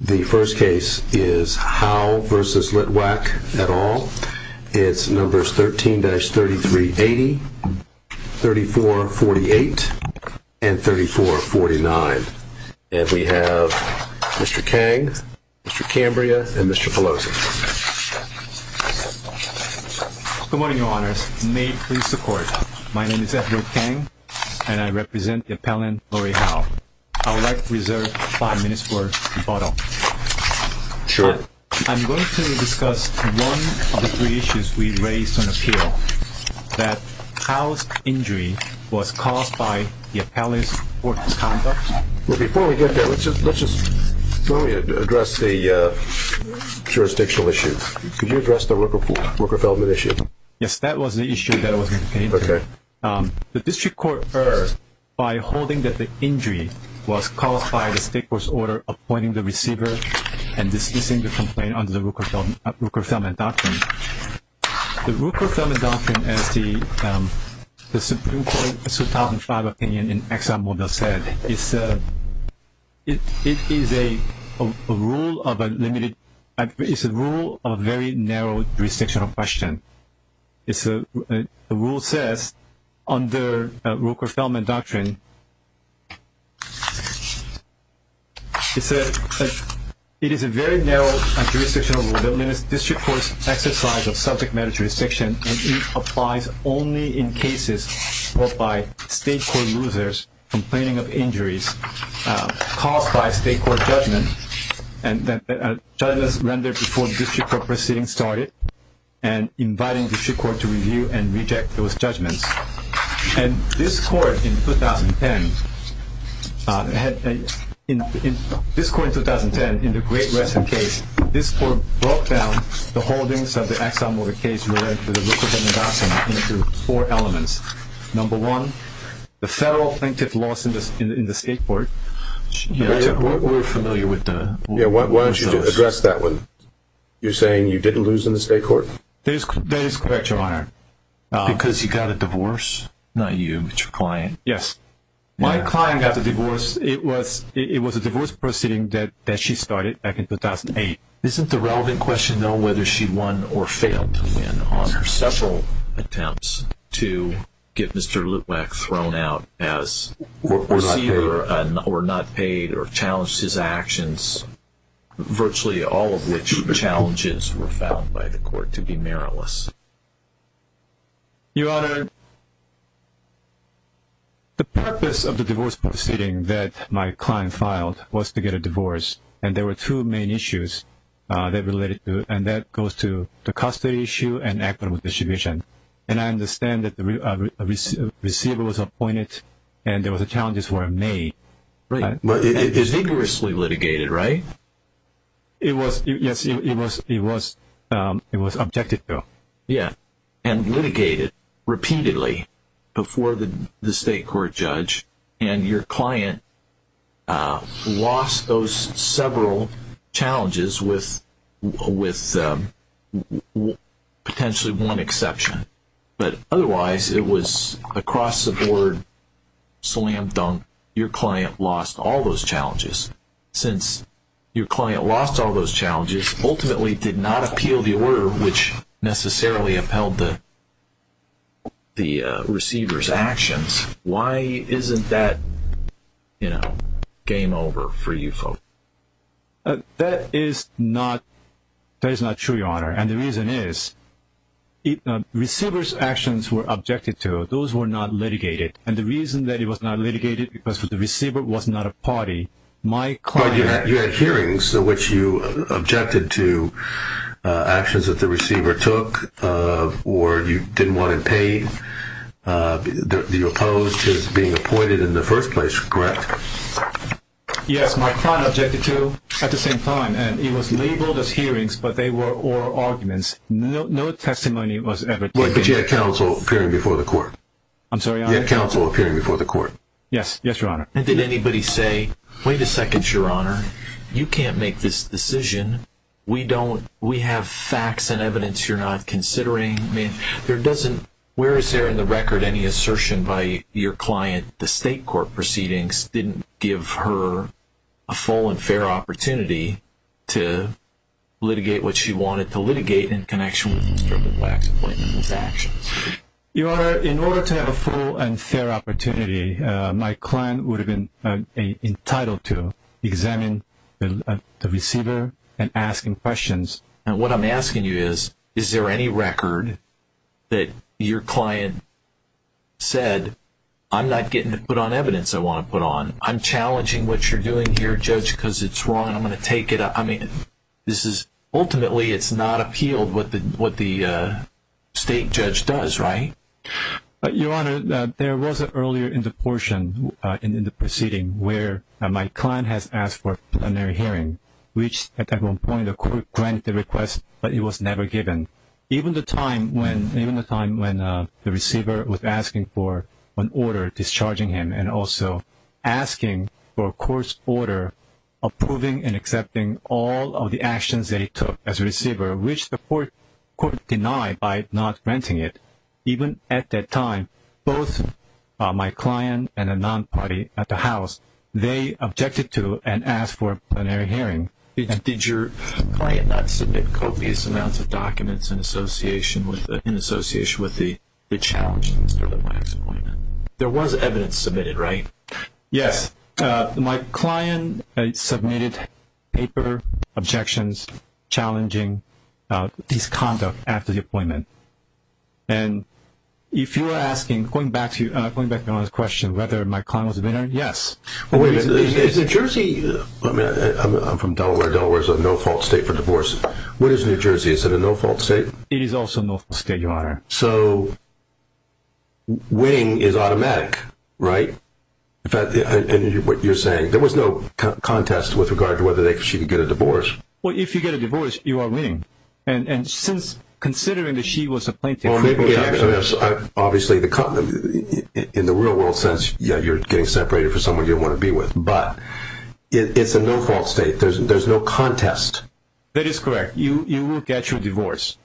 The first case is Howe v. Litwack et al. It's numbers 13-3380, 3448, and 3449. And we have Mr. Kang, Mr. Cambria, and Mr. Pelosi. Good morning, Your Honors. May it please the Court. My name is Edward Kang, and I represent the appellant Lauri Howe. I would like to reserve five minutes for rebuttal. Sure. I'm going to discuss one of the three issues we raised on appeal, that Howe's injury was caused by the appellant's work misconduct. Before we get there, let me address the jurisdictional issue. Could you address the worker failment issue? Yes, that was the issue that was maintained. Okay. The district court erred by holding that the injury was caused by the state court's order appointing the receiver and dismissing the complaint under the worker failment doctrine. The worker failment doctrine, as the Supreme Court's 2005 opinion in ExxonMobil said, is a rule of a very narrow jurisdictional question. The rule says, under worker failment doctrine, it is a very narrow jurisdictional rule that limits district court's exercise of subject matter jurisdiction, and it applies only in cases brought by state court losers complaining of injuries caused by state court judgment, and that a judgment is rendered before the district court proceeding started and inviting the district court to review and reject those judgments. And this court in 2010, in the Great Rest in Case, this court broke down the holdings of the ExxonMobil case related to the worker failment doctrine into four elements. Number one, the federal plaintiff lost in the state court. We're familiar with those. Why don't you address that one? You're saying you didn't lose in the state court? That is correct, Your Honor. Because you got a divorce? Not you, but your client. Yes. My client got the divorce. It was a divorce proceeding that she started back in 2008. Isn't the relevant question, though, whether she won or failed to win on her several attempts to get Mr. Lutwak thrown out as a receiver or not paid or challenged his actions, virtually all of which challenges were found by the court to be meriless? Your Honor, the purpose of the divorce proceeding that my client filed was to get a divorce, and there were two main issues that related to it, and that goes to the custody issue and equitable distribution. And I understand that the receiver was appointed and there were challenges were made. Right. It was vigorously litigated, right? Yes, it was. It was objected to. Yeah. And litigated repeatedly before the state court judge, and your client lost those several challenges with potentially one exception. But otherwise, it was across the board, slam dunk, your client lost all those challenges. Since your client lost all those challenges, ultimately did not appeal the order which necessarily upheld the receiver's actions. Why isn't that game over for you folks? That is not true, Your Honor, and the reason is receivers' actions were objected to. Those were not litigated, and the reason that it was not litigated was because the receiver was not a party. You had hearings in which you objected to actions that the receiver took or you didn't want him paid. You opposed his being appointed in the first place, correct? Yes, my client objected to at the same time, and it was labeled as hearings, but they were oral arguments. No testimony was ever taken. But you had counsel appearing before the court. I'm sorry, Your Honor? You had counsel appearing before the court. Yes, Your Honor. And did anybody say, wait a second, Your Honor, you can't make this decision. We have facts and evidence you're not considering. I mean, where is there in the record any assertion by your client the state court proceedings didn't give her a full and fair opportunity to litigate what she wanted to litigate in connection with Mr. LeBlanc's appointment and his actions? Your Honor, in order to have a full and fair opportunity, my client would have been entitled to examine the receiver and ask him questions. And what I'm asking you is, is there any record that your client said, I'm not getting to put on evidence I want to put on. I'm challenging what you're doing here, Judge, because it's wrong and I'm going to take it. I mean, this is ultimately it's not appealed what the state judge does, right? Your Honor, there was earlier in the portion in the proceeding where my client has asked for a plenary hearing, which at that one point the court granted the request, but it was never given. Even the time when the receiver was asking for an order discharging him and also asking for a court's order approving and accepting all of the actions they took as a receiver, which the court denied by not granting it, even at that time, both my client and a non-party at the house, they objected to and asked for a plenary hearing. Did your client not submit copious amounts of documents in association with the challenge to Mr. Litwack's appointment? There was evidence submitted, right? Yes. My client submitted paper objections challenging his conduct after the appointment. And if you're asking, going back to your Honor's question, whether my client was a winner, yes. Wait a minute, is New Jersey – I'm from Delaware. Delaware is a no-fault state for divorce. What is New Jersey? Is it a no-fault state? It is also a no-fault state, your Honor. So, winning is automatic, right? In fact, what you're saying, there was no contest with regard to whether she could get a divorce. Well, if you get a divorce, you are winning. And since considering that she was a plaintiff – Obviously, in the real world sense, you're getting separated from someone you want to be with. But it's a no-fault state. There's no contest. That is correct. You will get your divorce.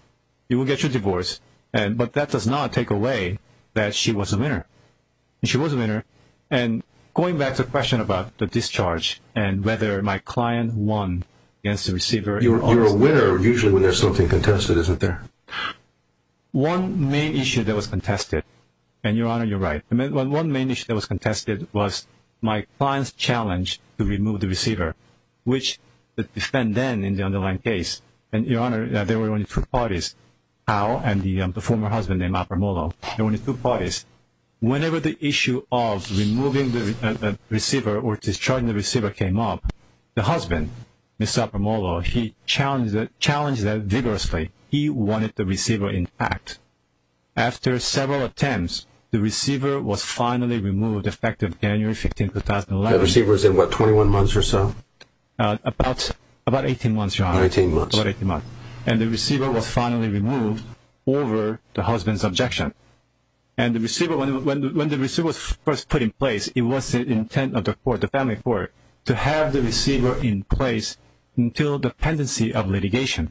You will get your divorce, but that does not take away that she was a winner. She was a winner. And going back to the question about the discharge and whether my client won against the receiver – You're a winner usually when there's something contested, isn't there? One main issue that was contested, and your Honor, you're right. One main issue that was contested was my client's challenge to remove the receiver, which the defendant in the underlying case – and your Honor, there were only two parties, Al and the former husband named Apermolo. There were only two parties. Whenever the issue of removing the receiver or discharging the receiver came up, the husband, Mr. Apermolo, he challenged that vigorously. He wanted the receiver intact. After several attempts, the receiver was finally removed effective January 15, 2011. That receiver was in what, 21 months or so? About 18 months, your Honor. About 18 months. And the receiver was finally removed over the husband's objection. And the receiver – when the receiver was first put in place, it was the intent of the family court to have the receiver in place until the pendency of litigation.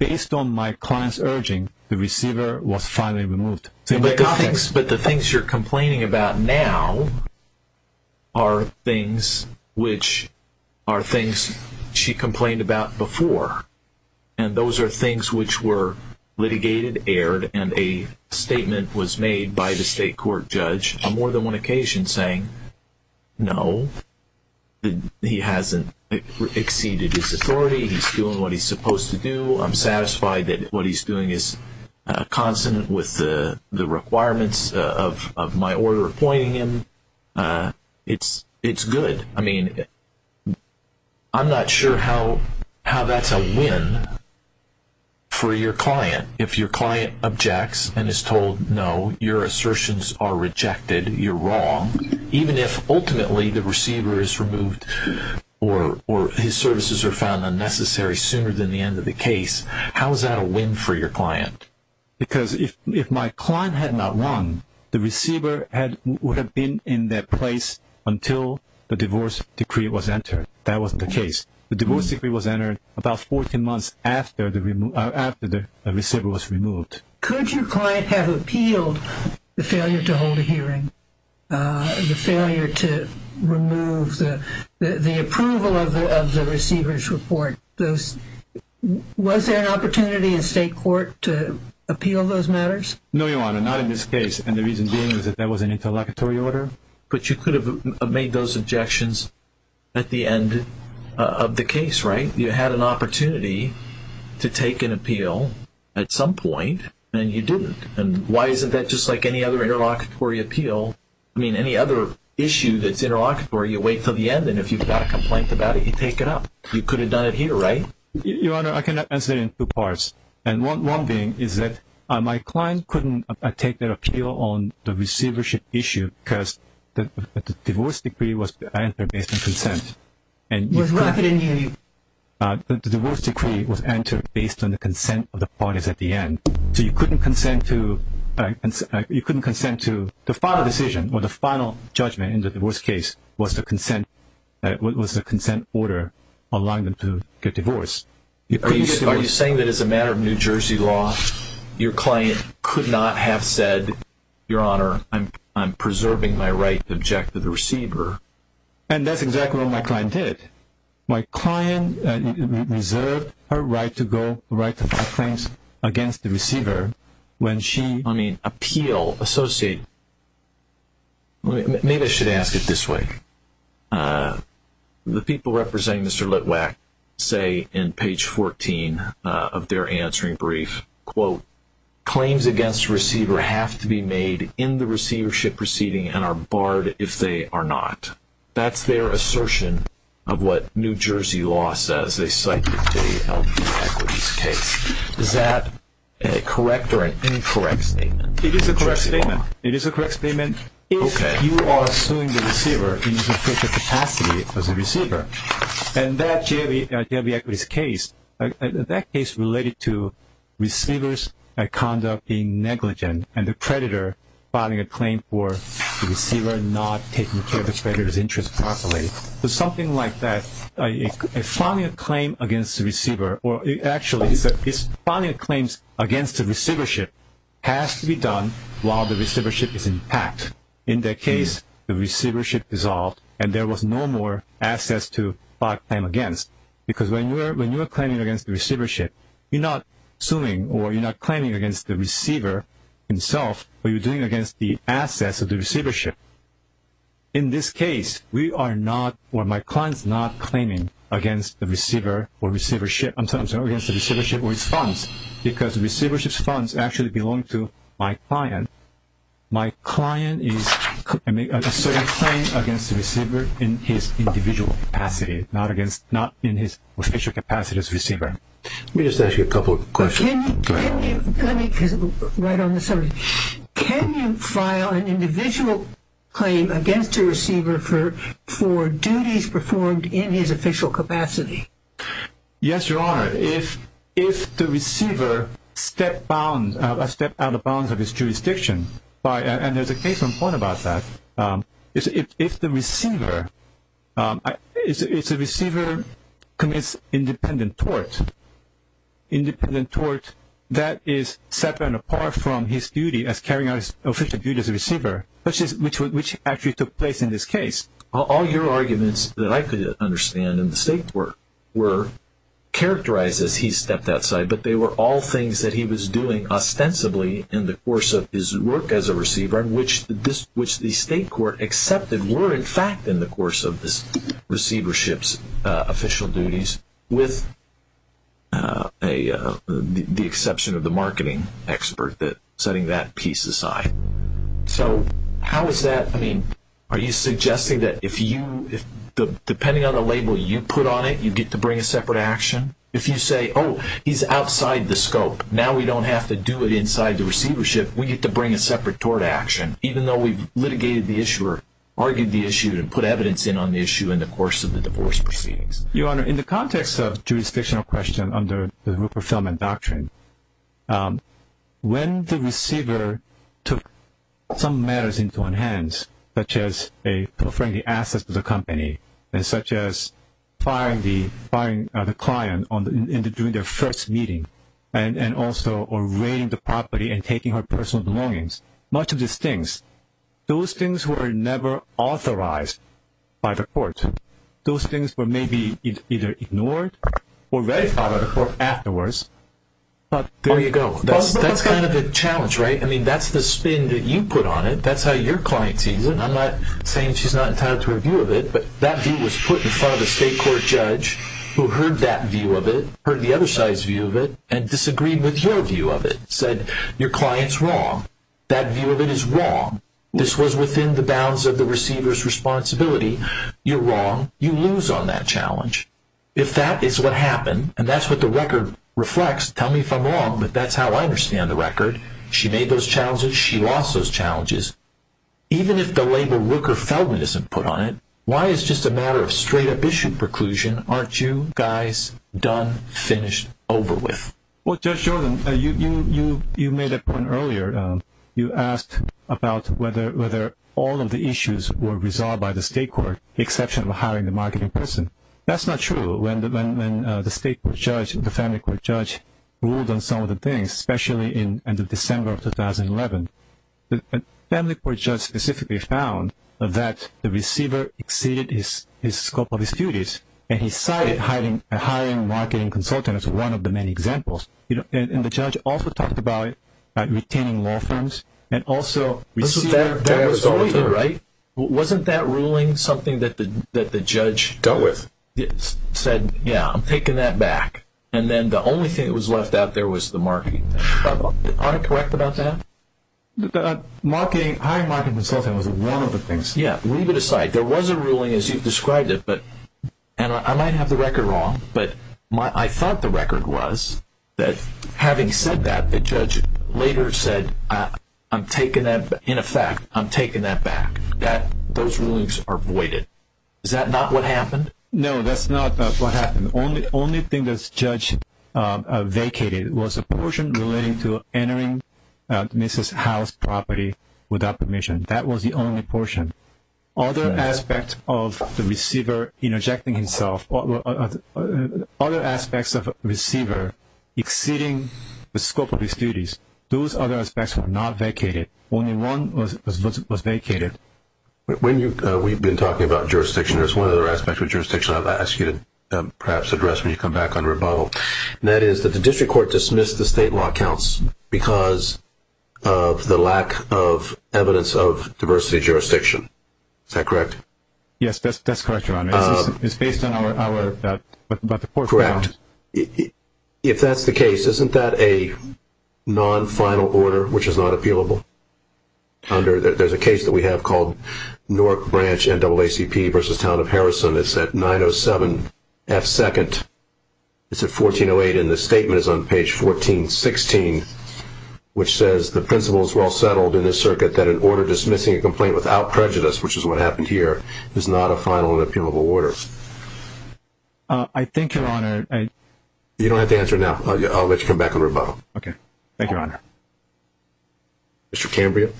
And based on my client's urging, the receiver was finally removed. But the things you're complaining about now are things which are things she complained about before. And those are things which were litigated, aired, and a statement was made by the state court judge on more than one occasion saying, No, he hasn't exceeded his authority. He's doing what he's supposed to do. I'm satisfied that what he's doing is consonant with the requirements of my order appointing him. It's good. I mean, I'm not sure how that's a win for your client. If your client objects and is told, No, your assertions are rejected, you're wrong, even if ultimately the receiver is removed or his services are found unnecessary sooner than the end of the case, how is that a win for your client? Because if my client had not won, the receiver would have been in that place until the divorce decree was entered. That wasn't the case. The divorce decree was entered about 14 months after the receiver was removed. Could your client have appealed the failure to hold a hearing, the failure to remove the approval of the receiver's report? Was there an opportunity in state court to appeal those matters? No, Your Honor, not in this case. And the reason being is that that was an interlocutory order. But you could have made those objections at the end of the case, right? You had an opportunity to take an appeal at some point, and you didn't. And why isn't that just like any other interlocutory appeal? I mean, any other issue that's interlocutory, you wait until the end, and if you've got a complaint about it, you take it up. You could have done it here, right? Your Honor, I can answer it in two parts. And one being is that my client couldn't take their appeal on the receivership issue because the divorce decree was entered based on consent. And you could have it in the end. The divorce decree was entered based on the consent of the parties at the end. So you couldn't consent to the final decision or the final judgment in the divorce case was the consent order allowing them to get divorced. Are you saying that as a matter of New Jersey law, your client could not have said, Your Honor, I'm preserving my right to object to the receiver? And that's exactly what my client did. My client reserved her right to go, her right to file claims against the receiver when she... I mean, appeal, associate... Maybe I should ask it this way. The people representing Mr. Litwack say in page 14 of their answering brief, quote, Claims against receiver have to be made in the receivership proceeding and are barred if they are not. That's their assertion of what New Jersey law says. They cite the JLD equities case. Is that a correct or an incorrect statement? It is a correct statement. It is a correct statement. If you are suing the receiver in sufficient capacity as a receiver and that JLD equities case, that case related to receivers' conduct being negligent and the creditor filing a claim for the receiver not taking care of the creditor's interest properly, something like that, filing a claim against the receiver, or actually it's filing a claim against the receivership has to be done while the receivership is intact. In that case, the receivership dissolved and there was no more assets to file a claim against because when you are claiming against the receivership, you're not suing or you're not claiming against the receiver himself, but you're doing it against the assets of the receivership. In this case, we are not or my client is not claiming against the receiver or receivership, I'm sorry, against the receivership or his funds because the receivership's funds actually belong to my client. My client is asserting a claim against the receiver in his individual capacity, not in his official capacity as a receiver. Let me just ask you a couple of questions. Can you file an individual claim against a receiver for duties performed in his official capacity? Yes, Your Honor. If the receiver stepped out of bounds of his jurisdiction, and there's a case on point about that, if the receiver commits independent tort that is separate and apart from his duty as carrying out his official duty as a receiver, which actually took place in this case, all your arguments that I could understand in the state court were characterized as he stepped outside, but they were all things that he was doing ostensibly in the course of his work as a receiver, which the state court accepted were in fact in the course of this receivership's official duties, with the exception of the marketing expert setting that piece aside. Are you suggesting that depending on the label you put on it, you get to bring a separate action? If you say, oh, he's outside the scope. Now we don't have to do it inside the receivership. We get to bring a separate tort action, even though we've litigated the issue or argued the issue and put evidence in on the issue in the course of the divorce proceedings. Your Honor, in the context of jurisdictional question under the Rupert Feldman Doctrine, when the receiver took some matters into one's hands, such as preferring the assets of the company and such as firing the client during their first meeting and also raiding the property and taking her personal belongings, much of these things, those things were never authorized by the court. Those things were maybe either ignored or ratified by the court afterwards. There you go. That's kind of the challenge, right? I mean, that's the spin that you put on it. That's how your client sees it. I'm not saying she's not entitled to a view of it, but that view was put in front of a state court judge who heard that view of it, heard the other side's view of it, and disagreed with your view of it, said your client's wrong. That view of it is wrong. This was within the bounds of the receiver's responsibility. You're wrong. You lose on that challenge. If that is what happened and that's what the record reflects, tell me if I'm wrong, but that's how I understand the record. She made those challenges. She lost those challenges. Even if the label Rooker-Feldman isn't put on it, why is it just a matter of straight-up issue preclusion, aren't you guys done, finished, over with? Well, Judge Jordan, you made a point earlier. You asked about whether all of the issues were resolved by the state court, the exception of hiring the marketing person. That's not true. When the state court judge and the family court judge ruled on some of the things, especially in the end of December of 2011, the family court judge specifically found that the receiver exceeded the scope of his duties, and he cited hiring a marketing consultant as one of the many examples. And the judge also talked about retaining law firms and also receivers. Wasn't that ruling something that the judge said, yeah, I'm taking that back, and then the only thing that was left out there was the marketing consultant? Am I correct about that? Hiring a marketing consultant was one of the things. Yeah. Leave it aside. There was a ruling, as you've described it, and I might have the record wrong, but I thought the record was that having said that, the judge later said, in effect, I'm taking that back. Those rulings are voided. Is that not what happened? No, that's not what happened. The only thing that the judge vacated was a portion relating to entering Mrs. Howe's property without permission. That was the only portion. Other aspects of the receiver interjecting himself, other aspects of a receiver exceeding the scope of his duties, those other aspects were not vacated. Only one was vacated. When we've been talking about jurisdiction, there's one other aspect of jurisdiction I'd like to ask you to perhaps address when you come back under rebuttal, and that is that the district court dismissed the state law counts because of the lack of evidence of diversity jurisdiction. Is that correct? Yes, that's correct, Your Honor. It's based on our report. Correct. If that's the case, isn't that a non-final order, which is not appealable? There's a case that we have called Newark Branch NAACP versus Town of Harrison. It's at 907F2nd. It's at 1408, and the statement is on page 1416, which says the principle is well settled in this circuit that an order dismissing a complaint without prejudice, which is what happened here, is not a final and appealable order. I think, Your Honor. You don't have to answer now. I'll let you come back in rebuttal. Okay. Thank you, Your Honor. Mr. Cambria.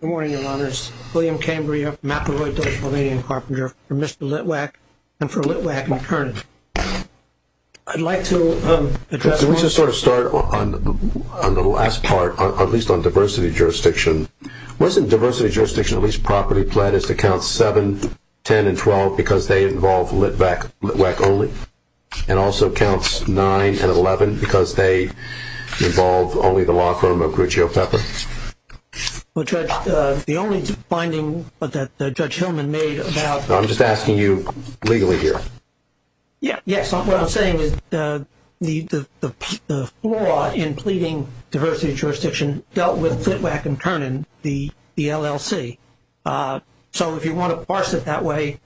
Good morning, Your Honors. William Cambria, Mapa-Rhodes, Virginia Carpenter, for Mr. Litwack, and for Litwack, McKernan. I'd like to address one. Let's just sort of start on the last part, at least on diversity jurisdiction. Wasn't diversity jurisdiction at least property pledged to count 7, 10, and 12 because they involve Litwack only, and also counts 9 and 11 because they involve only the law firm of Gruccio Pepper? Well, Judge, the only finding that Judge Hillman made about I'm just asking you legally here. Yes. What I'm saying is the law in pleading diversity jurisdiction dealt with Litwack and Kernan, the LLC. So if you want to parse it that way,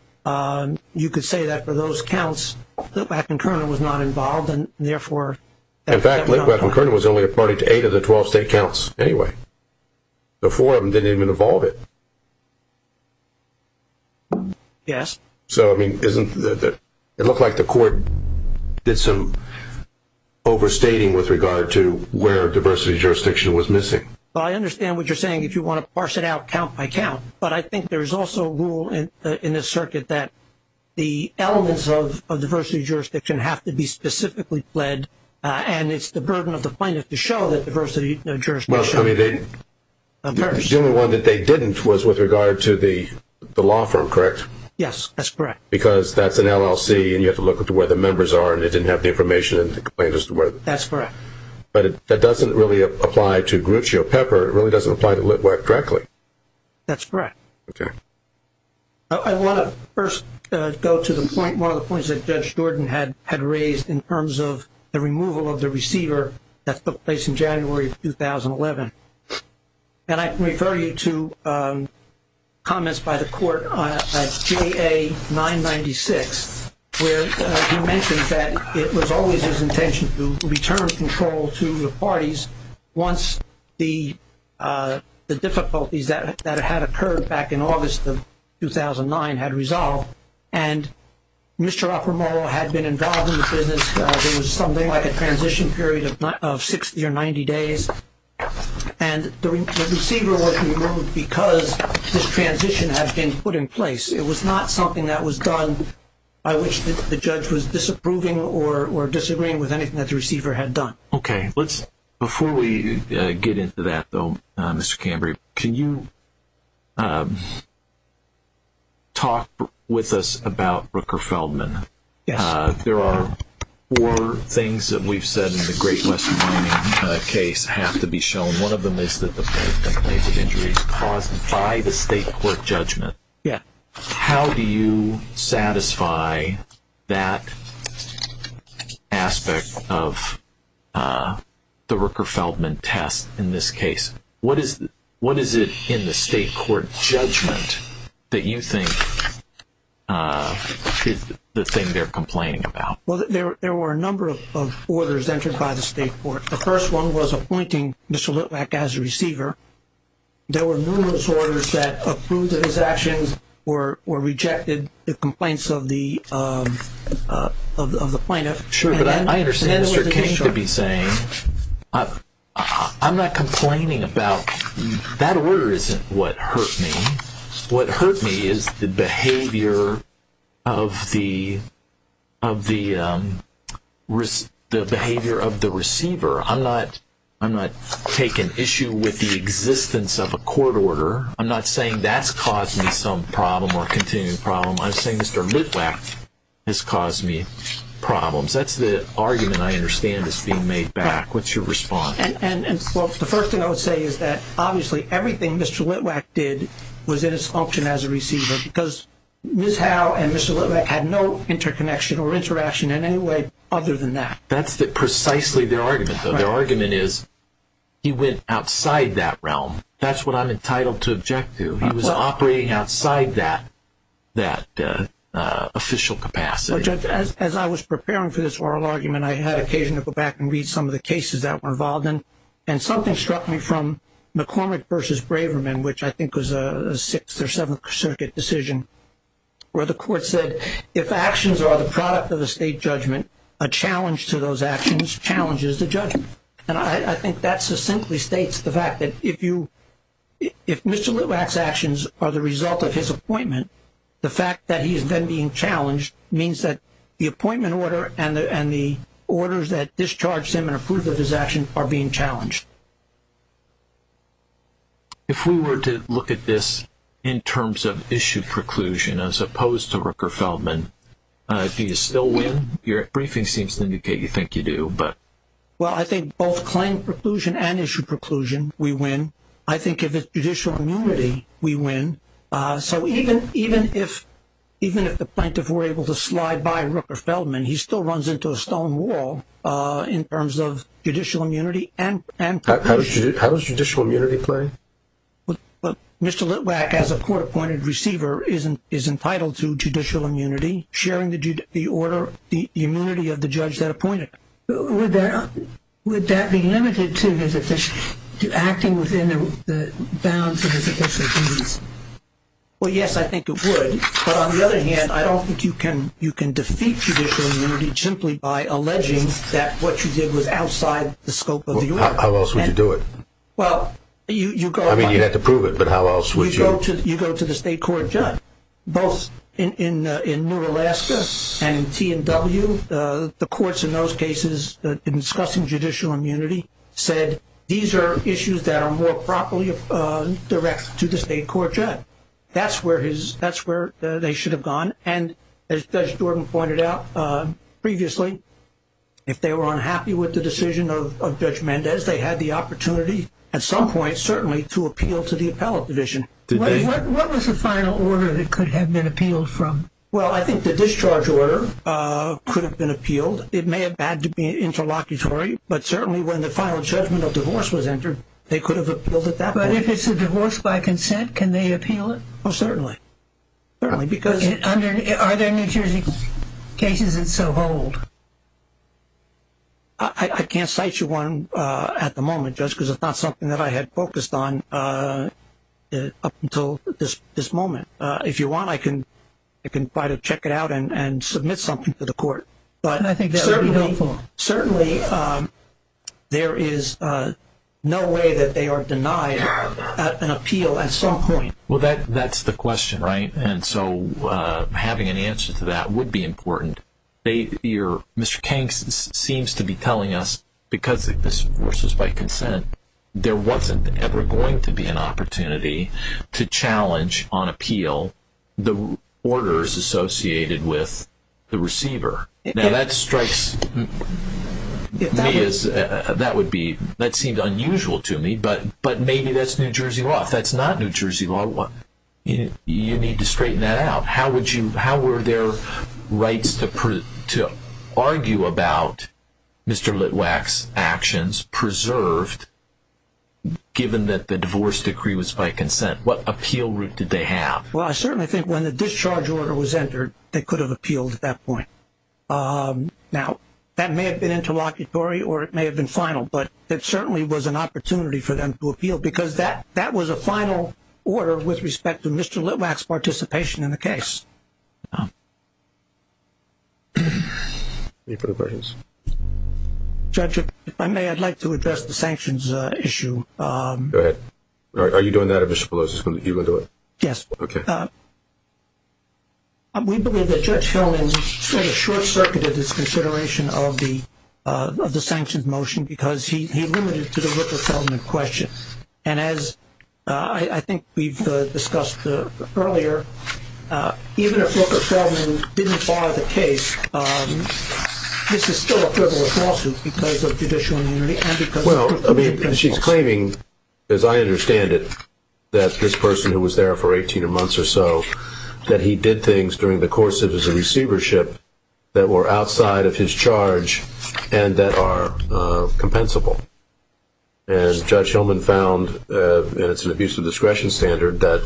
you could say that for those counts, Litwack and Kernan was not involved, and therefore. In fact, Litwack and Kernan was only a party to eight of the 12 state counts anyway. The four of them didn't even involve it. Yes. So, I mean, doesn't it look like the court did some overstating with regard to where diversity jurisdiction was missing? Well, I understand what you're saying. If you want to parse it out count by count. But I think there's also a rule in this circuit that the elements of diversity jurisdiction have to be specifically pledged, and it's the burden of the plaintiff to show that diversity jurisdiction. Well, I mean, the only one that they didn't was with regard to the law firm, correct? Yes, that's correct. Because that's an LLC, and you have to look at where the members are, and they didn't have the information in the complaint as to where. That's correct. But that doesn't really apply to Gruccio Pepper. It really doesn't apply to Litwack directly. That's correct. Okay. I want to first go to the point, one of the points that Judge Jordan had raised in terms of the removal of the receiver that took place in January of 2011. And I can refer you to comments by the court at JA996, where he mentioned that it was always his intention to return control to the parties once the difficulties that had occurred back in August of 2009 had resolved. And Mr. Canberra, the receiver was removed because this transition had been put in place. It was not something that was done by which the judge was disapproving or disagreeing with anything that the receiver had done. Okay. Before we get into that, though, Mr. Canberra, can you talk with us about Brooker Feldman? Yes. There are four things that we've said in the Great Western Mining case have to be shown. One of them is that the complaints of injuries caused by the state court judgment. Yeah. How do you satisfy that aspect of the Brooker Feldman test in this case? What is it in the state court judgment that you think is the thing they're complaining about? Well, there were a number of orders entered by the state court. The first one was appointing Mr. Litvack as a receiver. There were numerous orders that approved of his actions or rejected the complaints of the plaintiff. Sure. But I understand Mr. King to be saying, I'm not complaining about that order isn't what hurt me. What hurt me is the behavior of the receiver. I'm not taking issue with the existence of a court order. I'm not saying that's caused me some problem or continued problem. I'm saying Mr. Litvack has caused me problems. That's the argument I understand is being made back. What's your response? The first thing I would say is that obviously everything Mr. Litvack did was in its function as a receiver because Ms. Howe and Mr. Litvack had no interconnection or interaction in any way other than that. That's precisely their argument. Their argument is he went outside that realm. That's what I'm entitled to object to. He was operating outside that official capacity. Judge, as I was preparing for this oral argument, I had occasion to go back and read some of the cases that were involved in. Something struck me from McCormick versus Braverman, which I think was a Sixth or Seventh Circuit decision, where the court said, if actions are the product of the state judgment, a challenge to those actions challenges the judgment. I think that succinctly states the fact that if Mr. Litvack's actions are the result of his appointment, the fact that he's then being challenged means that the appointment order and the orders that discharge him and approve of his actions are being challenged. If we were to look at this in terms of issue preclusion as opposed to Rooker-Feldman, do you still win? Your briefing seems to indicate you think you do. Well, I think both claim preclusion and issue preclusion, we win. I think if it's judicial immunity, we win. So even if the plaintiff were able to slide by Rooker-Feldman, he still runs into a stone wall in terms of judicial immunity and preclusion. How does judicial immunity play? Well, Mr. Litvack, as a court-appointed receiver, is entitled to judicial immunity, sharing the order, the immunity of the judge that appointed him. Would that be limited to acting within the bounds of his official duties? Well, yes, I think it would. But on the other hand, I don't think you can defeat judicial immunity simply by alleging that what you did was outside the scope of the order. How else would you do it? I mean, you'd have to prove it, but how else would you? You go to the state court judge. Both in New Alaska and T&W, the courts in those cases discussing judicial immunity said, these are issues that are more properly directed to the state court judge. That's where they should have gone. And as Judge Jordan pointed out previously, if they were unhappy with the decision of Judge Mendez, they had the opportunity at some point certainly to appeal to the appellate division. What was the final order that could have been appealed from? Well, I think the discharge order could have been appealed. It may have had to be interlocutory, but certainly when the final judgment of divorce was entered, they could have appealed at that point. But if it's a divorce by consent, can they appeal it? Oh, certainly. Are there New Jersey cases that so hold? I can't cite you one at the moment, Judge, because it's not something that I had focused on up until this moment. If you want, I can try to check it out and submit something to the court. I think that would be helpful. Well, certainly there is no way that they are denied an appeal at some point. Well, that's the question, right? And so having an answer to that would be important. Mr. Kanks seems to be telling us because this divorce was by consent, there wasn't ever going to be an opportunity to challenge on appeal the orders associated with the receiver. Now, that seems unusual to me, but maybe that's New Jersey law. If that's not New Jersey law, you need to straighten that out. How were their rights to argue about Mr. Litwack's actions preserved, given that the divorce decree was by consent? What appeal route did they have? Well, I certainly think when the discharge order was entered, they could have appealed at that point. Now, that may have been interlocutory or it may have been final, but it certainly was an opportunity for them to appeal because that was a final order with respect to Mr. Litwack's participation in the case. Any further questions? Judge, if I may, I'd like to address the sanctions issue. Go ahead. Are you doing that? Are you going to do it? Yes. Okay. We believe that Judge Feldman sort of short-circuited his consideration of the sanctions motion because he limited it to the Rooker-Feldman question. And as I think we've discussed earlier, even if Rooker-Feldman didn't file the case, this is still a frivolous lawsuit because of judicial immunity and because of the principles. She's claiming, as I understand it, that this person who was there for 18 months or so, that he did things during the course of his receivership that were outside of his charge and that are compensable. And Judge Feldman found, and it's an abuse of discretion standard, that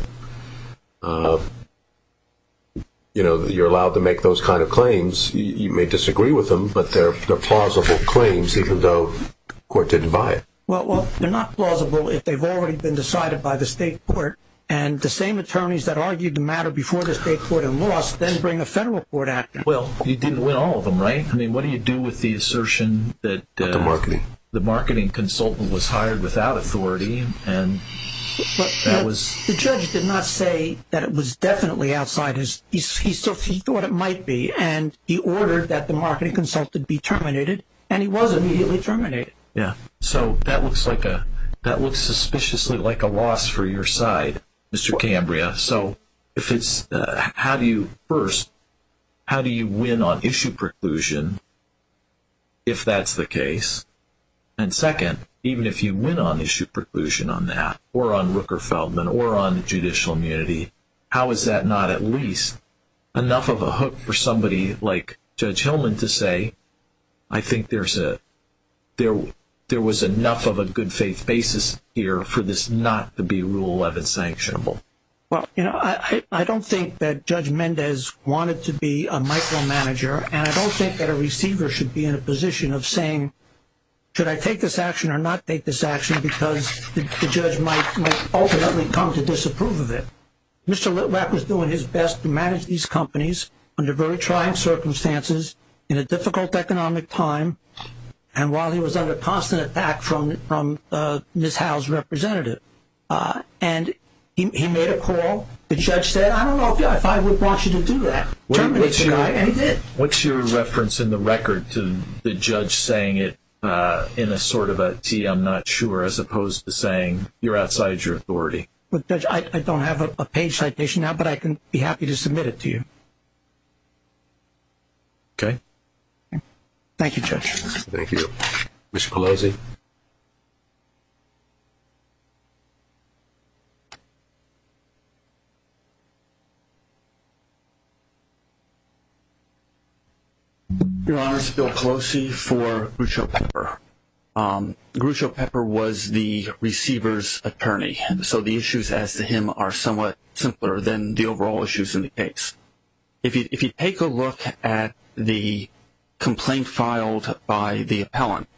you're allowed to make those kind of claims. You may disagree with them, but they're plausible claims, even though the court didn't buy it. Well, they're not plausible if they've already been decided by the state court and the same attorneys that argued the matter before the state court and lost then bring a federal court action. Well, you didn't win all of them, right? I mean, what do you do with the assertion that the marketing consultant was hired without authority and that was... The judge did not say that it was definitely outside his... He thought it might be, and he ordered that the marketing consultant be terminated, and he was immediately terminated. Yeah, so that looks suspiciously like a loss for your side, Mr. Cambria. So if it's... First, how do you win on issue preclusion if that's the case? And second, even if you win on issue preclusion on that or on Rooker-Feldman or on judicial immunity, how is that not at least enough of a hook for somebody like Judge Hillman to say, I think there was enough of a good faith basis here for this not to be Rule 11 sanctionable? Well, you know, I don't think that Judge Mendez wanted to be a micromanager, and I don't think that a receiver should be in a position of saying, should I take this action or not take this action because the judge might ultimately come to disapprove of it. Mr. Litwack was doing his best to manage these companies under very trying circumstances, in a difficult economic time, and while he was under constant attack from Ms. Howell's representative. And he made a call. The judge said, I don't know if I would want you to do that. Terminate the guy, and he did. What's your reference in the record to the judge saying it in a sort of a T, I'm not sure, as opposed to saying you're outside your authority? Look, Judge, I don't have a page citation now, but I can be happy to submit it to you. Okay. Thank you, Judge. Thank you. Commissioner Pelosi. Your Honor, this is Bill Pelosi for Grucho Pepper. Grucho Pepper was the receiver's attorney, so the issues as to him are somewhat simpler than the overall issues in the case. If you take a look at the complaint filed by the appellant,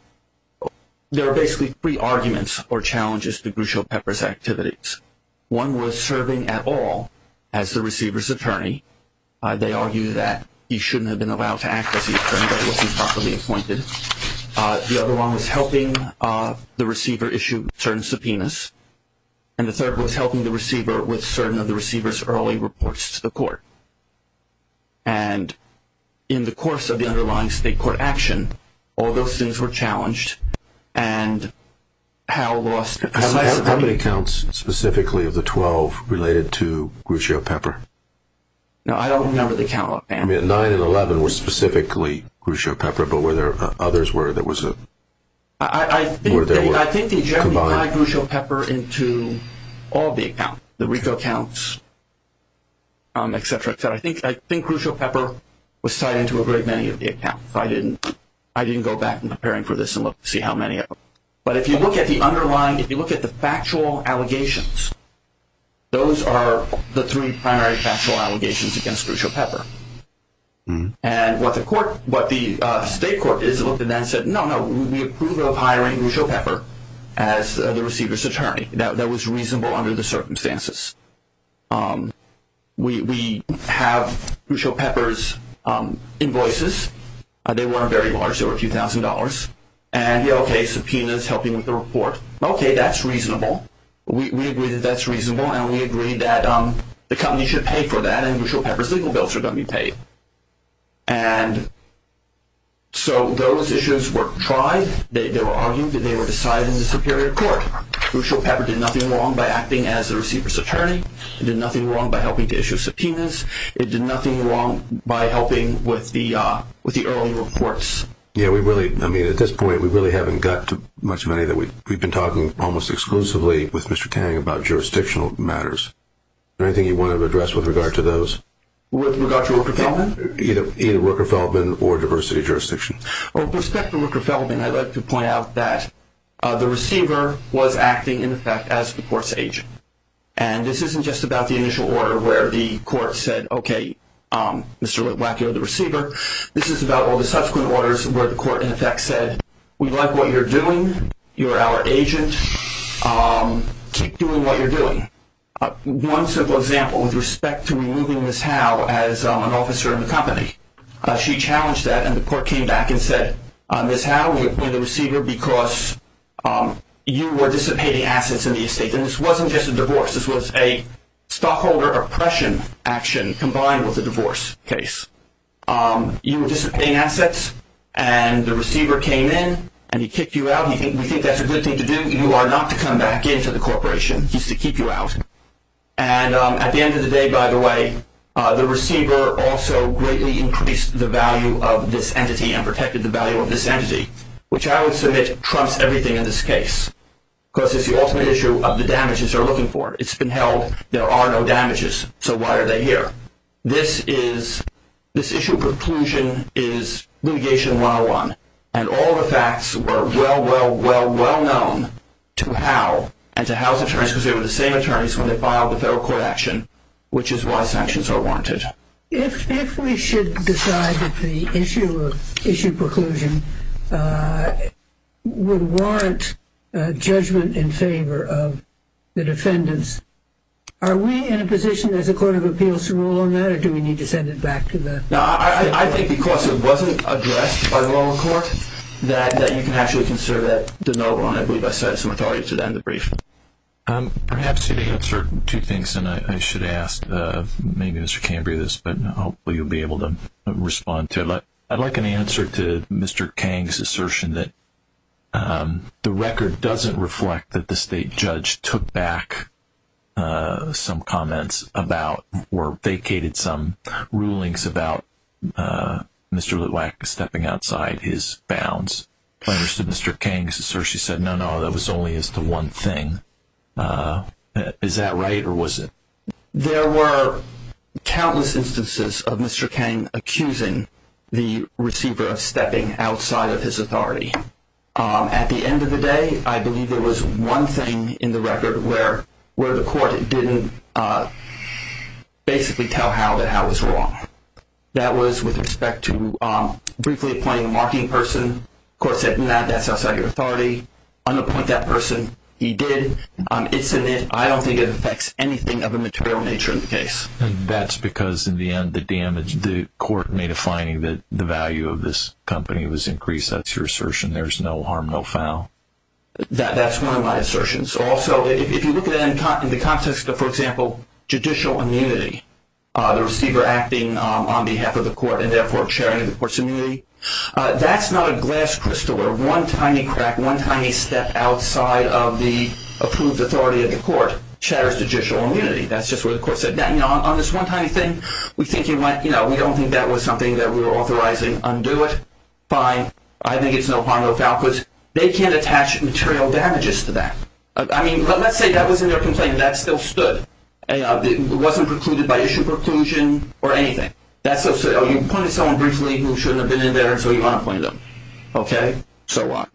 there are basically three arguments or challenges to Grucho Pepper's activities. One was serving at all as the receiver's attorney. They argue that he shouldn't have been allowed to act as the attorney, that he wasn't properly appointed. The other one was helping the receiver issue certain subpoenas, and the third was helping the receiver with certain of the receiver's early reports to the court. And in the course of the underlying state court action, all those things were challenged, and Hal lost his license. How many counts specifically of the 12 related to Grucho Pepper? No, I don't remember the count. Nine and 11 were specifically Grucho Pepper, but were there others where there was a combined? I think the attorney tied Grucho Pepper into all the accounts, the RICO accounts, et cetera, et cetera. I think Grucho Pepper was tied into a great many of the accounts. I didn't go back in preparing for this and look to see how many of them. But if you look at the underlying, if you look at the factual allegations, those are the three primary factual allegations against Grucho Pepper. And what the state court looked at that and said, no, no, we approve of hiring Grucho Pepper as the receiver's attorney. That was reasonable under the circumstances. We have Grucho Pepper's invoices. They weren't very large. They were a few thousand dollars. And, yeah, okay, subpoenas, helping with the report. Okay, that's reasonable. We agree that that's reasonable, and we agree that the company should pay for that, and Grucho Pepper's legal bills are going to be paid. And so those issues were tried. They were argued that they were decided in the superior court. Grucho Pepper did nothing wrong by acting as the receiver's attorney. It did nothing wrong by helping to issue subpoenas. It did nothing wrong by helping with the early reports. Yeah, we really, I mean, at this point we really haven't got to much of any of that. We've been talking almost exclusively with Mr. Kang about jurisdictional matters. Is there anything you want to address with regard to those? With regard to Rooker-Feldman? Either Rooker-Feldman or diversity jurisdiction. Well, with respect to Rooker-Feldman, I'd like to point out that the receiver was acting, in effect, as the court's agent. And this isn't just about the initial order where the court said, okay, Mr. Wackio, the receiver. This is about all the subsequent orders where the court, in effect, said, we like what you're doing. You are our agent. Keep doing what you're doing. One simple example with respect to removing Ms. Howe as an officer in the company. She challenged that, and the court came back and said, Ms. Howe, we appoint a receiver because you were dissipating assets in the estate. And this wasn't just a divorce. This was a stockholder oppression action combined with a divorce case. You were dissipating assets, and the receiver came in, and he kicked you out. We think that's a good thing to do. You are not to come back into the corporation. He's to keep you out. And at the end of the day, by the way, the receiver also greatly increased the value of this entity and protected the value of this entity, which I would submit trumps everything in this case because it's the ultimate issue of the damages they're looking for. It's been held there are no damages, so why are they here? This issue of preclusion is litigation 101, and all the facts were well, well, well, well known to Howe and to Howe's attorneys because they were the same attorneys when they filed the federal court action, which is why sanctions are warranted. If we should decide that the issue of issue preclusion would warrant judgment in favor of the defendants, are we in a position as a court of appeals to rule on that, or do we need to send it back to the… No, I think because it wasn't addressed by the lower court that you can actually consider that de novo, and I believe I said some authority to that in the brief. Perhaps you can answer two things, and I should ask maybe Mr. Cambria this, but hopefully you'll be able to respond to it. I'd like an answer to Mr. Kang's assertion that the record doesn't reflect that the state judge took back some comments about or vacated some rulings about Mr. Litwack stepping outside his bounds. I understood Mr. Kang's assertion said no, no, that was only as to one thing. Is that right, or was it… There were countless instances of Mr. Kang accusing the receiver of stepping outside of his authority. At the end of the day, I believe there was one thing in the record where the court didn't basically tell Hal that Hal was wrong. That was with respect to briefly appointing a marking person. The court said, no, that's outside your authority. Unappoint that person. He did. It's in it. I don't think it affects anything of a material nature in the case. That's because in the end the court made a finding that the value of this company was increased. That's your assertion. There's no harm, no foul. That's one of my assertions. Also, if you look at it in the context of, for example, judicial immunity, the receiver acting on behalf of the court and, therefore, sharing the court's immunity, that's not a glass crystal. One tiny crack, one tiny step outside of the approved authority of the court shatters judicial immunity. That's just what the court said. On this one tiny thing, we don't think that was something that we were authorizing. Undo it. Fine. I think it's no harm, no foul because they can't attach material damages to that. Let's say that was in their complaint and that still stood. It wasn't precluded by issue preclusion or anything. You appointed someone briefly who shouldn't have been in there, so you want to appoint them. Okay? So what?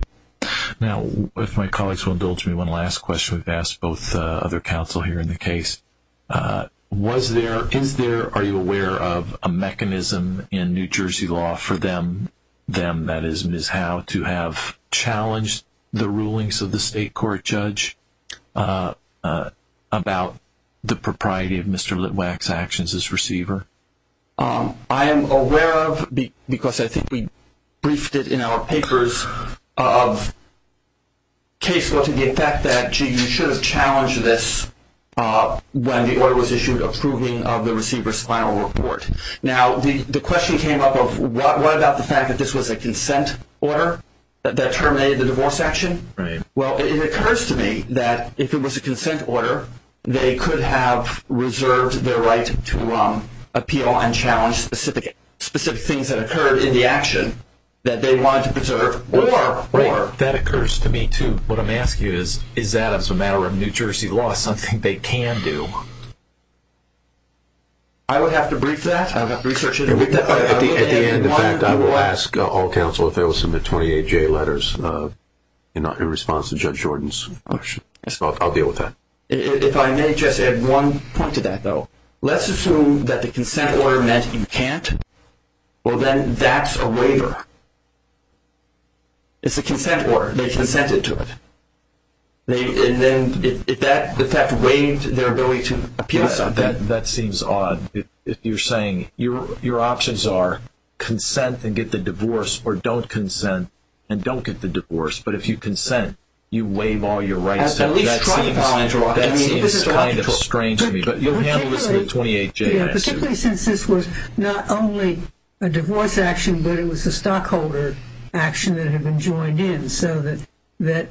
Now, if my colleagues will indulge me, one last question. We've asked both other counsel here in the case. Are you aware of a mechanism in New Jersey law for them, that is, how to have challenged the rulings of the state court judge about the propriety of Mr. Litwack's actions as receiver? I am aware of, because I think we briefed it in our papers, of case law to the effect that, gee, you should have challenged this when the order was issued approving of the receiver's final report. Now, the question came up of what about the fact that this was a consent order that terminated the divorce action? Right. Well, it occurs to me that if it was a consent order, they could have reserved their right to appeal and challenge specific things that occurred in the action that they wanted to preserve. Right. That occurs to me, too. What I'm asking you is, is that, as a matter of New Jersey law, something they can do? I would have to brief that. I would have to research it. At the end, in fact, I will ask all counsel if there was some 28J letters in response to Judge Jordan's question. I'll deal with that. If I may just add one point to that, though. Let's assume that the consent order meant you can't. Well, then that's a waiver. It's a consent order. They consented to it. If that waived their ability to appeal something. That seems odd. You're saying your options are consent and get the divorce or don't consent and don't get the divorce. But if you consent, you waive all your rights. That seems kind of strange to me. But you'll handle this with the 28J action. Particularly since this was not only a divorce action, but it was a stockholder action that had been joined in. So that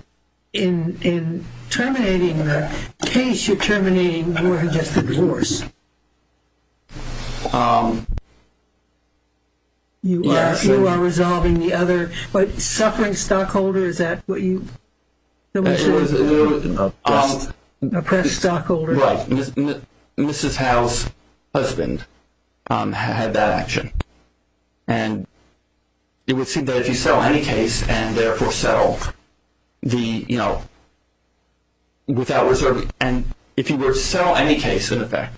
in terminating the case, you're terminating more than just the divorce. You are resolving the other. But suffering stockholder, is that what you? Oppressed stockholder. Right. Mrs. Howe's husband had that action. And it would seem that if you settle any case and therefore settle without reserving. And if you were to settle any case, in effect,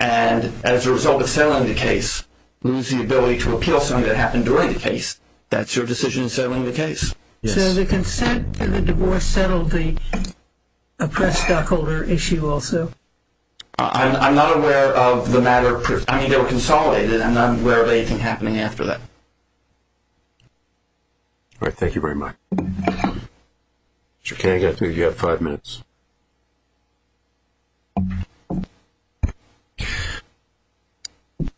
and as a result of settling the case, lose the ability to appeal something that happened during the case, that's your decision in settling the case. So the consent and the divorce settled the oppressed stockholder issue also? I'm not aware of the matter. I mean, they were consolidated. I'm not aware of anything happening after that. All right. Thank you very much. Mr. Kagan, I think you have five minutes.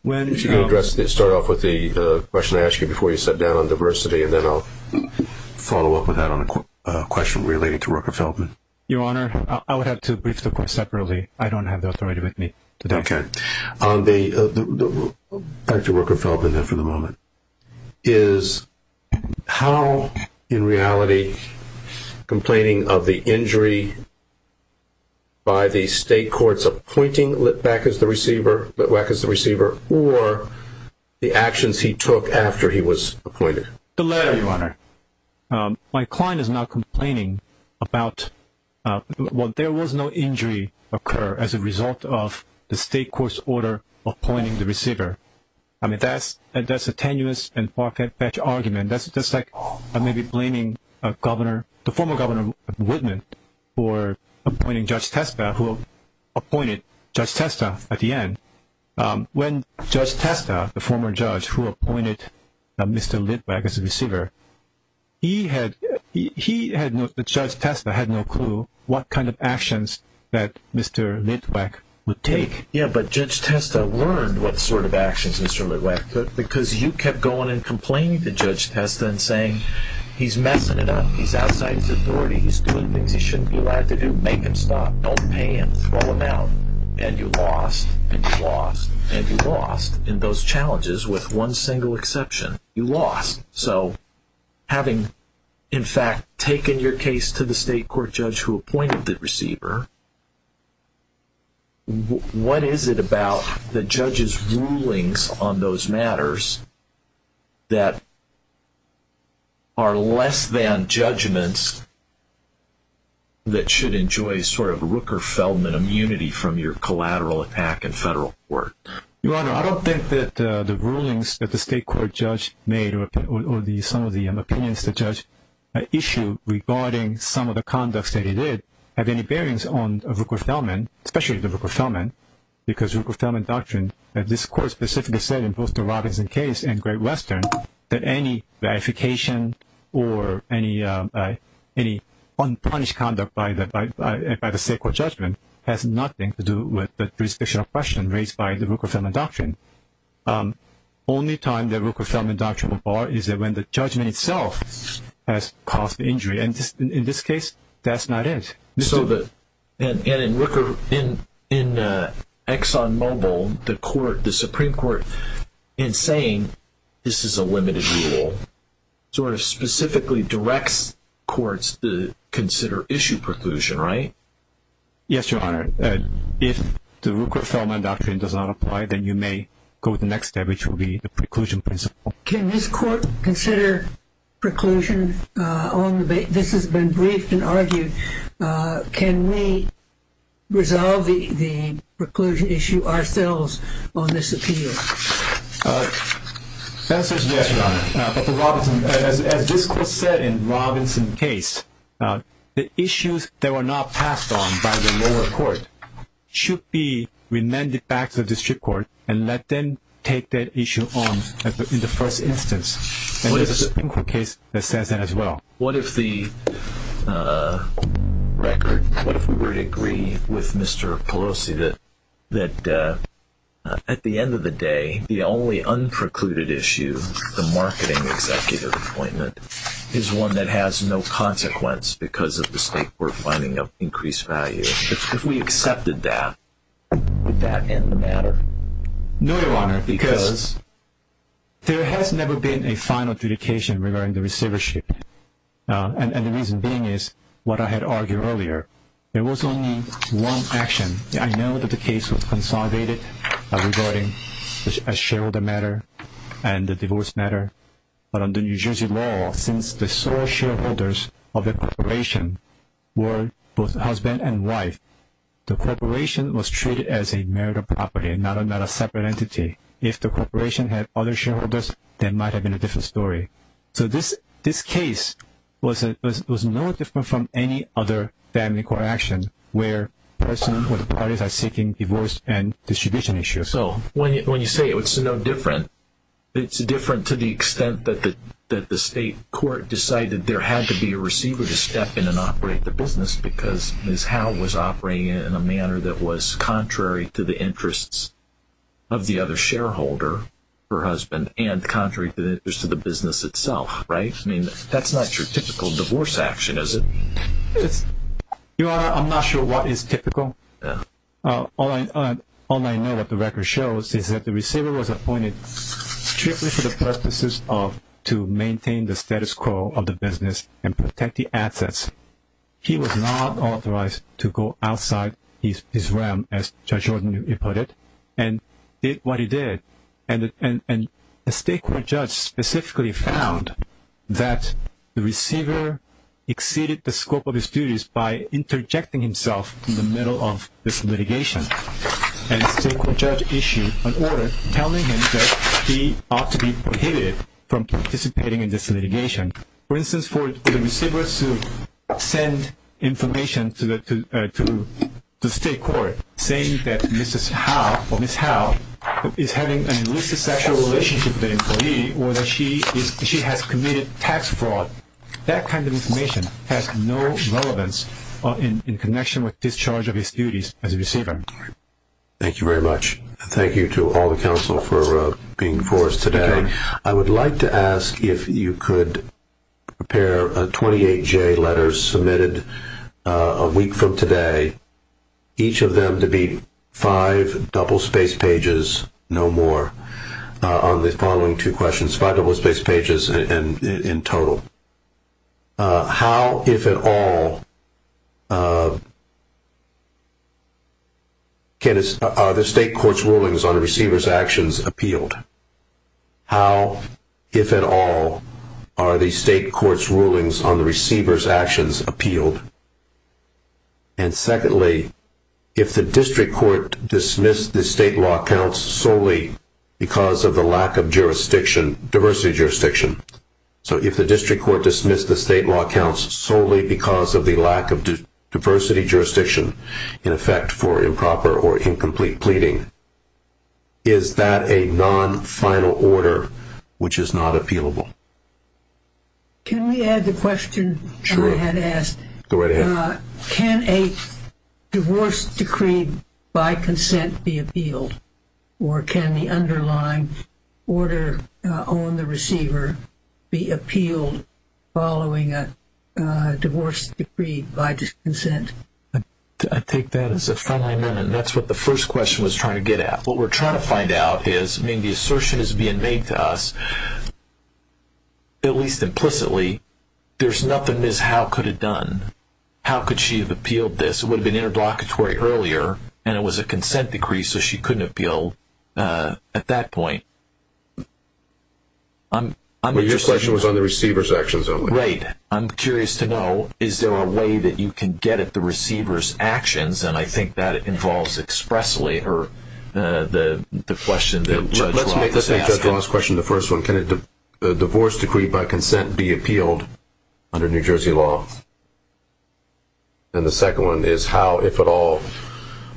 If you can address this, start off with the question I asked you before you sat down on diversity, and then I'll follow up with that on a question relating to Rooker Feldman. Your Honor, I would have to brief the court separately. I don't have the authority with me today. Okay. Dr. Rooker Feldman, then, for the moment, is how, in reality, complaining of the injury by the state court's appointing Litwack as the receiver or the actions he took after he was appointed? The latter, Your Honor. My client is now complaining about there was no injury occur as a result of the state court's order appointing the receiver. I mean, that's a tenuous and far-fetched argument. That's like maybe blaming the former Governor Whitman for appointing Judge Testa, who appointed Judge Testa at the end. When Judge Testa, the former judge who appointed Mr. Litwack as the receiver, Judge Testa had no clue what kind of actions that Mr. Litwack would take. Yeah, but Judge Testa learned what sort of actions Mr. Litwack took because you kept going and complaining to Judge Testa and saying, He's messing it up. He's outside his authority. He's doing things he shouldn't be allowed to do. Make him stop. Don't pay him. Throw him out. And you lost, and you lost, and you lost in those challenges with one single exception. You lost. So having, in fact, taken your case to the state court judge who appointed the receiver, what is it about the judge's rulings on those matters that are less than judgments that should enjoy sort of Rooker-Feldman immunity from your collateral attack in federal court? Your Honor, I don't think that the rulings that the state court judge made or some of the opinions the judge issued regarding some of the conducts that he did have any bearings on Rooker-Feldman, especially the Rooker-Feldman, because Rooker-Feldman doctrine, this Court specifically said in both the Robinson case and Great Western that any ratification or any unpunished conduct by the state court judgment has nothing to do with the jurisdictional question raised by the Rooker-Feldman doctrine. Only time that Rooker-Feldman doctrine will bar is when the judgment itself has caused the injury. And in this case, that's not it. And in Rooker, in ExxonMobil, the Supreme Court, in saying this is a limited rule, sort of specifically directs courts to consider issue preclusion, right? Yes, Your Honor. If the Rooker-Feldman doctrine does not apply, then you may go to the next step, which will be the preclusion principle. Can this Court consider preclusion on the basis, this has been briefed and argued, can we resolve the preclusion issue ourselves on this appeal? The answer is yes, Your Honor. As this Court said in Robinson's case, the issues that were not passed on by the lower court should be remanded back to the district court and let them take that issue on in the first instance. And there's a Supreme Court case that says that as well. What if the record, what if we were to agree with Mr. Pelosi that at the end of the day, the only unprecluded issue, the marketing executive appointment, is one that has no consequence because of the state court finding of increased value? If we accepted that, would that end the matter? No, Your Honor, because there has never been a final adjudication regarding the receivership. And the reason being is, what I had argued earlier, there was only one action. I know that the case was consolidated regarding a shareholder matter and the divorce matter. But under New Jersey law, since the sole shareholders of the corporation were both husband and wife, the corporation was treated as a marital property and not a separate entity. If the corporation had other shareholders, that might have been a different story. So this case was no different from any other family court action where the parties are seeking divorce and distribution issues. So when you say it's no different, it's different to the extent that the state court decided there had to be a receiver to step in and operate the business because Ms. Howe was operating it in a manner that was contrary to the interests of the other shareholder, her husband, and contrary to the interests of the business itself, right? I mean, that's not your typical divorce action, is it? Your Honor, I'm not sure what is typical. All I know what the record shows is that the receiver was appointed strictly for the purposes of to maintain the status quo of the business and protect the assets. He was not authorized to go outside his realm, as Judge Ordon put it, and did what he did. And the state court judge specifically found that the receiver exceeded the scope of his duties by interjecting himself in the middle of this litigation. And the state court judge issued an order telling him that he ought to be prohibited from participating in this litigation. For instance, for the receiver to send information to the state court, saying that Ms. Howe is having an illicit sexual relationship with an employee or that she has committed tax fraud, that kind of information has no relevance in connection with discharge of his duties as a receiver. Thank you very much. Thank you to all the counsel for being for us today. I would like to ask if you could prepare 28 J letters submitted a week from today, each of them to be five double-spaced pages, no more, on the following two questions. Five double-spaced pages in total. How, if at all, are the state court's rulings on the receiver's actions appealed? How, if at all, are the state court's rulings on the receiver's actions appealed? And secondly, if the district court dismissed the state law counts solely because of the lack of jurisdiction, diversity jurisdiction, so if the district court dismissed the state law counts solely because of the lack of diversity jurisdiction, in effect for improper or incomplete pleading, is that a non-final order which is not appealable? Can we add the question I had asked? Sure. Go right ahead. Can a divorce decree by consent be appealed, or can the underlying order on the receiver be appealed following a divorce decree by consent? I take that as a friendly amendment. That's what the first question was trying to get at. What we're trying to find out is, I mean, the assertion is being made to us, at least implicitly, there's nothing Ms. Howe could have done. How could she have appealed this? It would have been interlocutory earlier, and it was a consent decree, so she couldn't have appealed at that point. Your question was on the receiver's actions, wasn't it? Right. I'm curious to know, is there a way that you can get at the receiver's actions, The first one, can a divorce decree by consent be appealed under New Jersey law? And the second one is, how, if at all,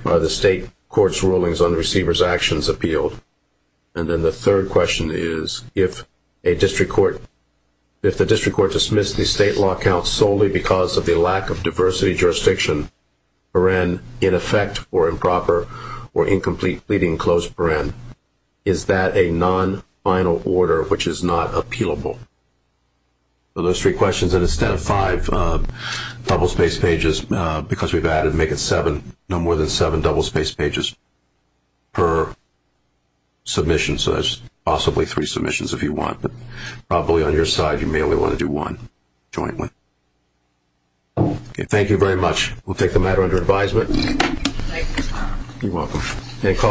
are the state court's rulings on the receiver's actions appealed? And then the third question is, if a district court, if the district court dismissed the state law count solely because of the lack of diversity jurisdiction, is that a non-final order, which is not appealable? So those three questions, and instead of five double-spaced pages, because we've added no more than seven double-spaced pages per submission, so there's possibly three submissions if you want. But probably on your side, you may only want to do one jointly. Thank you very much. We'll take the matter under advisement. Thank you. You're welcome.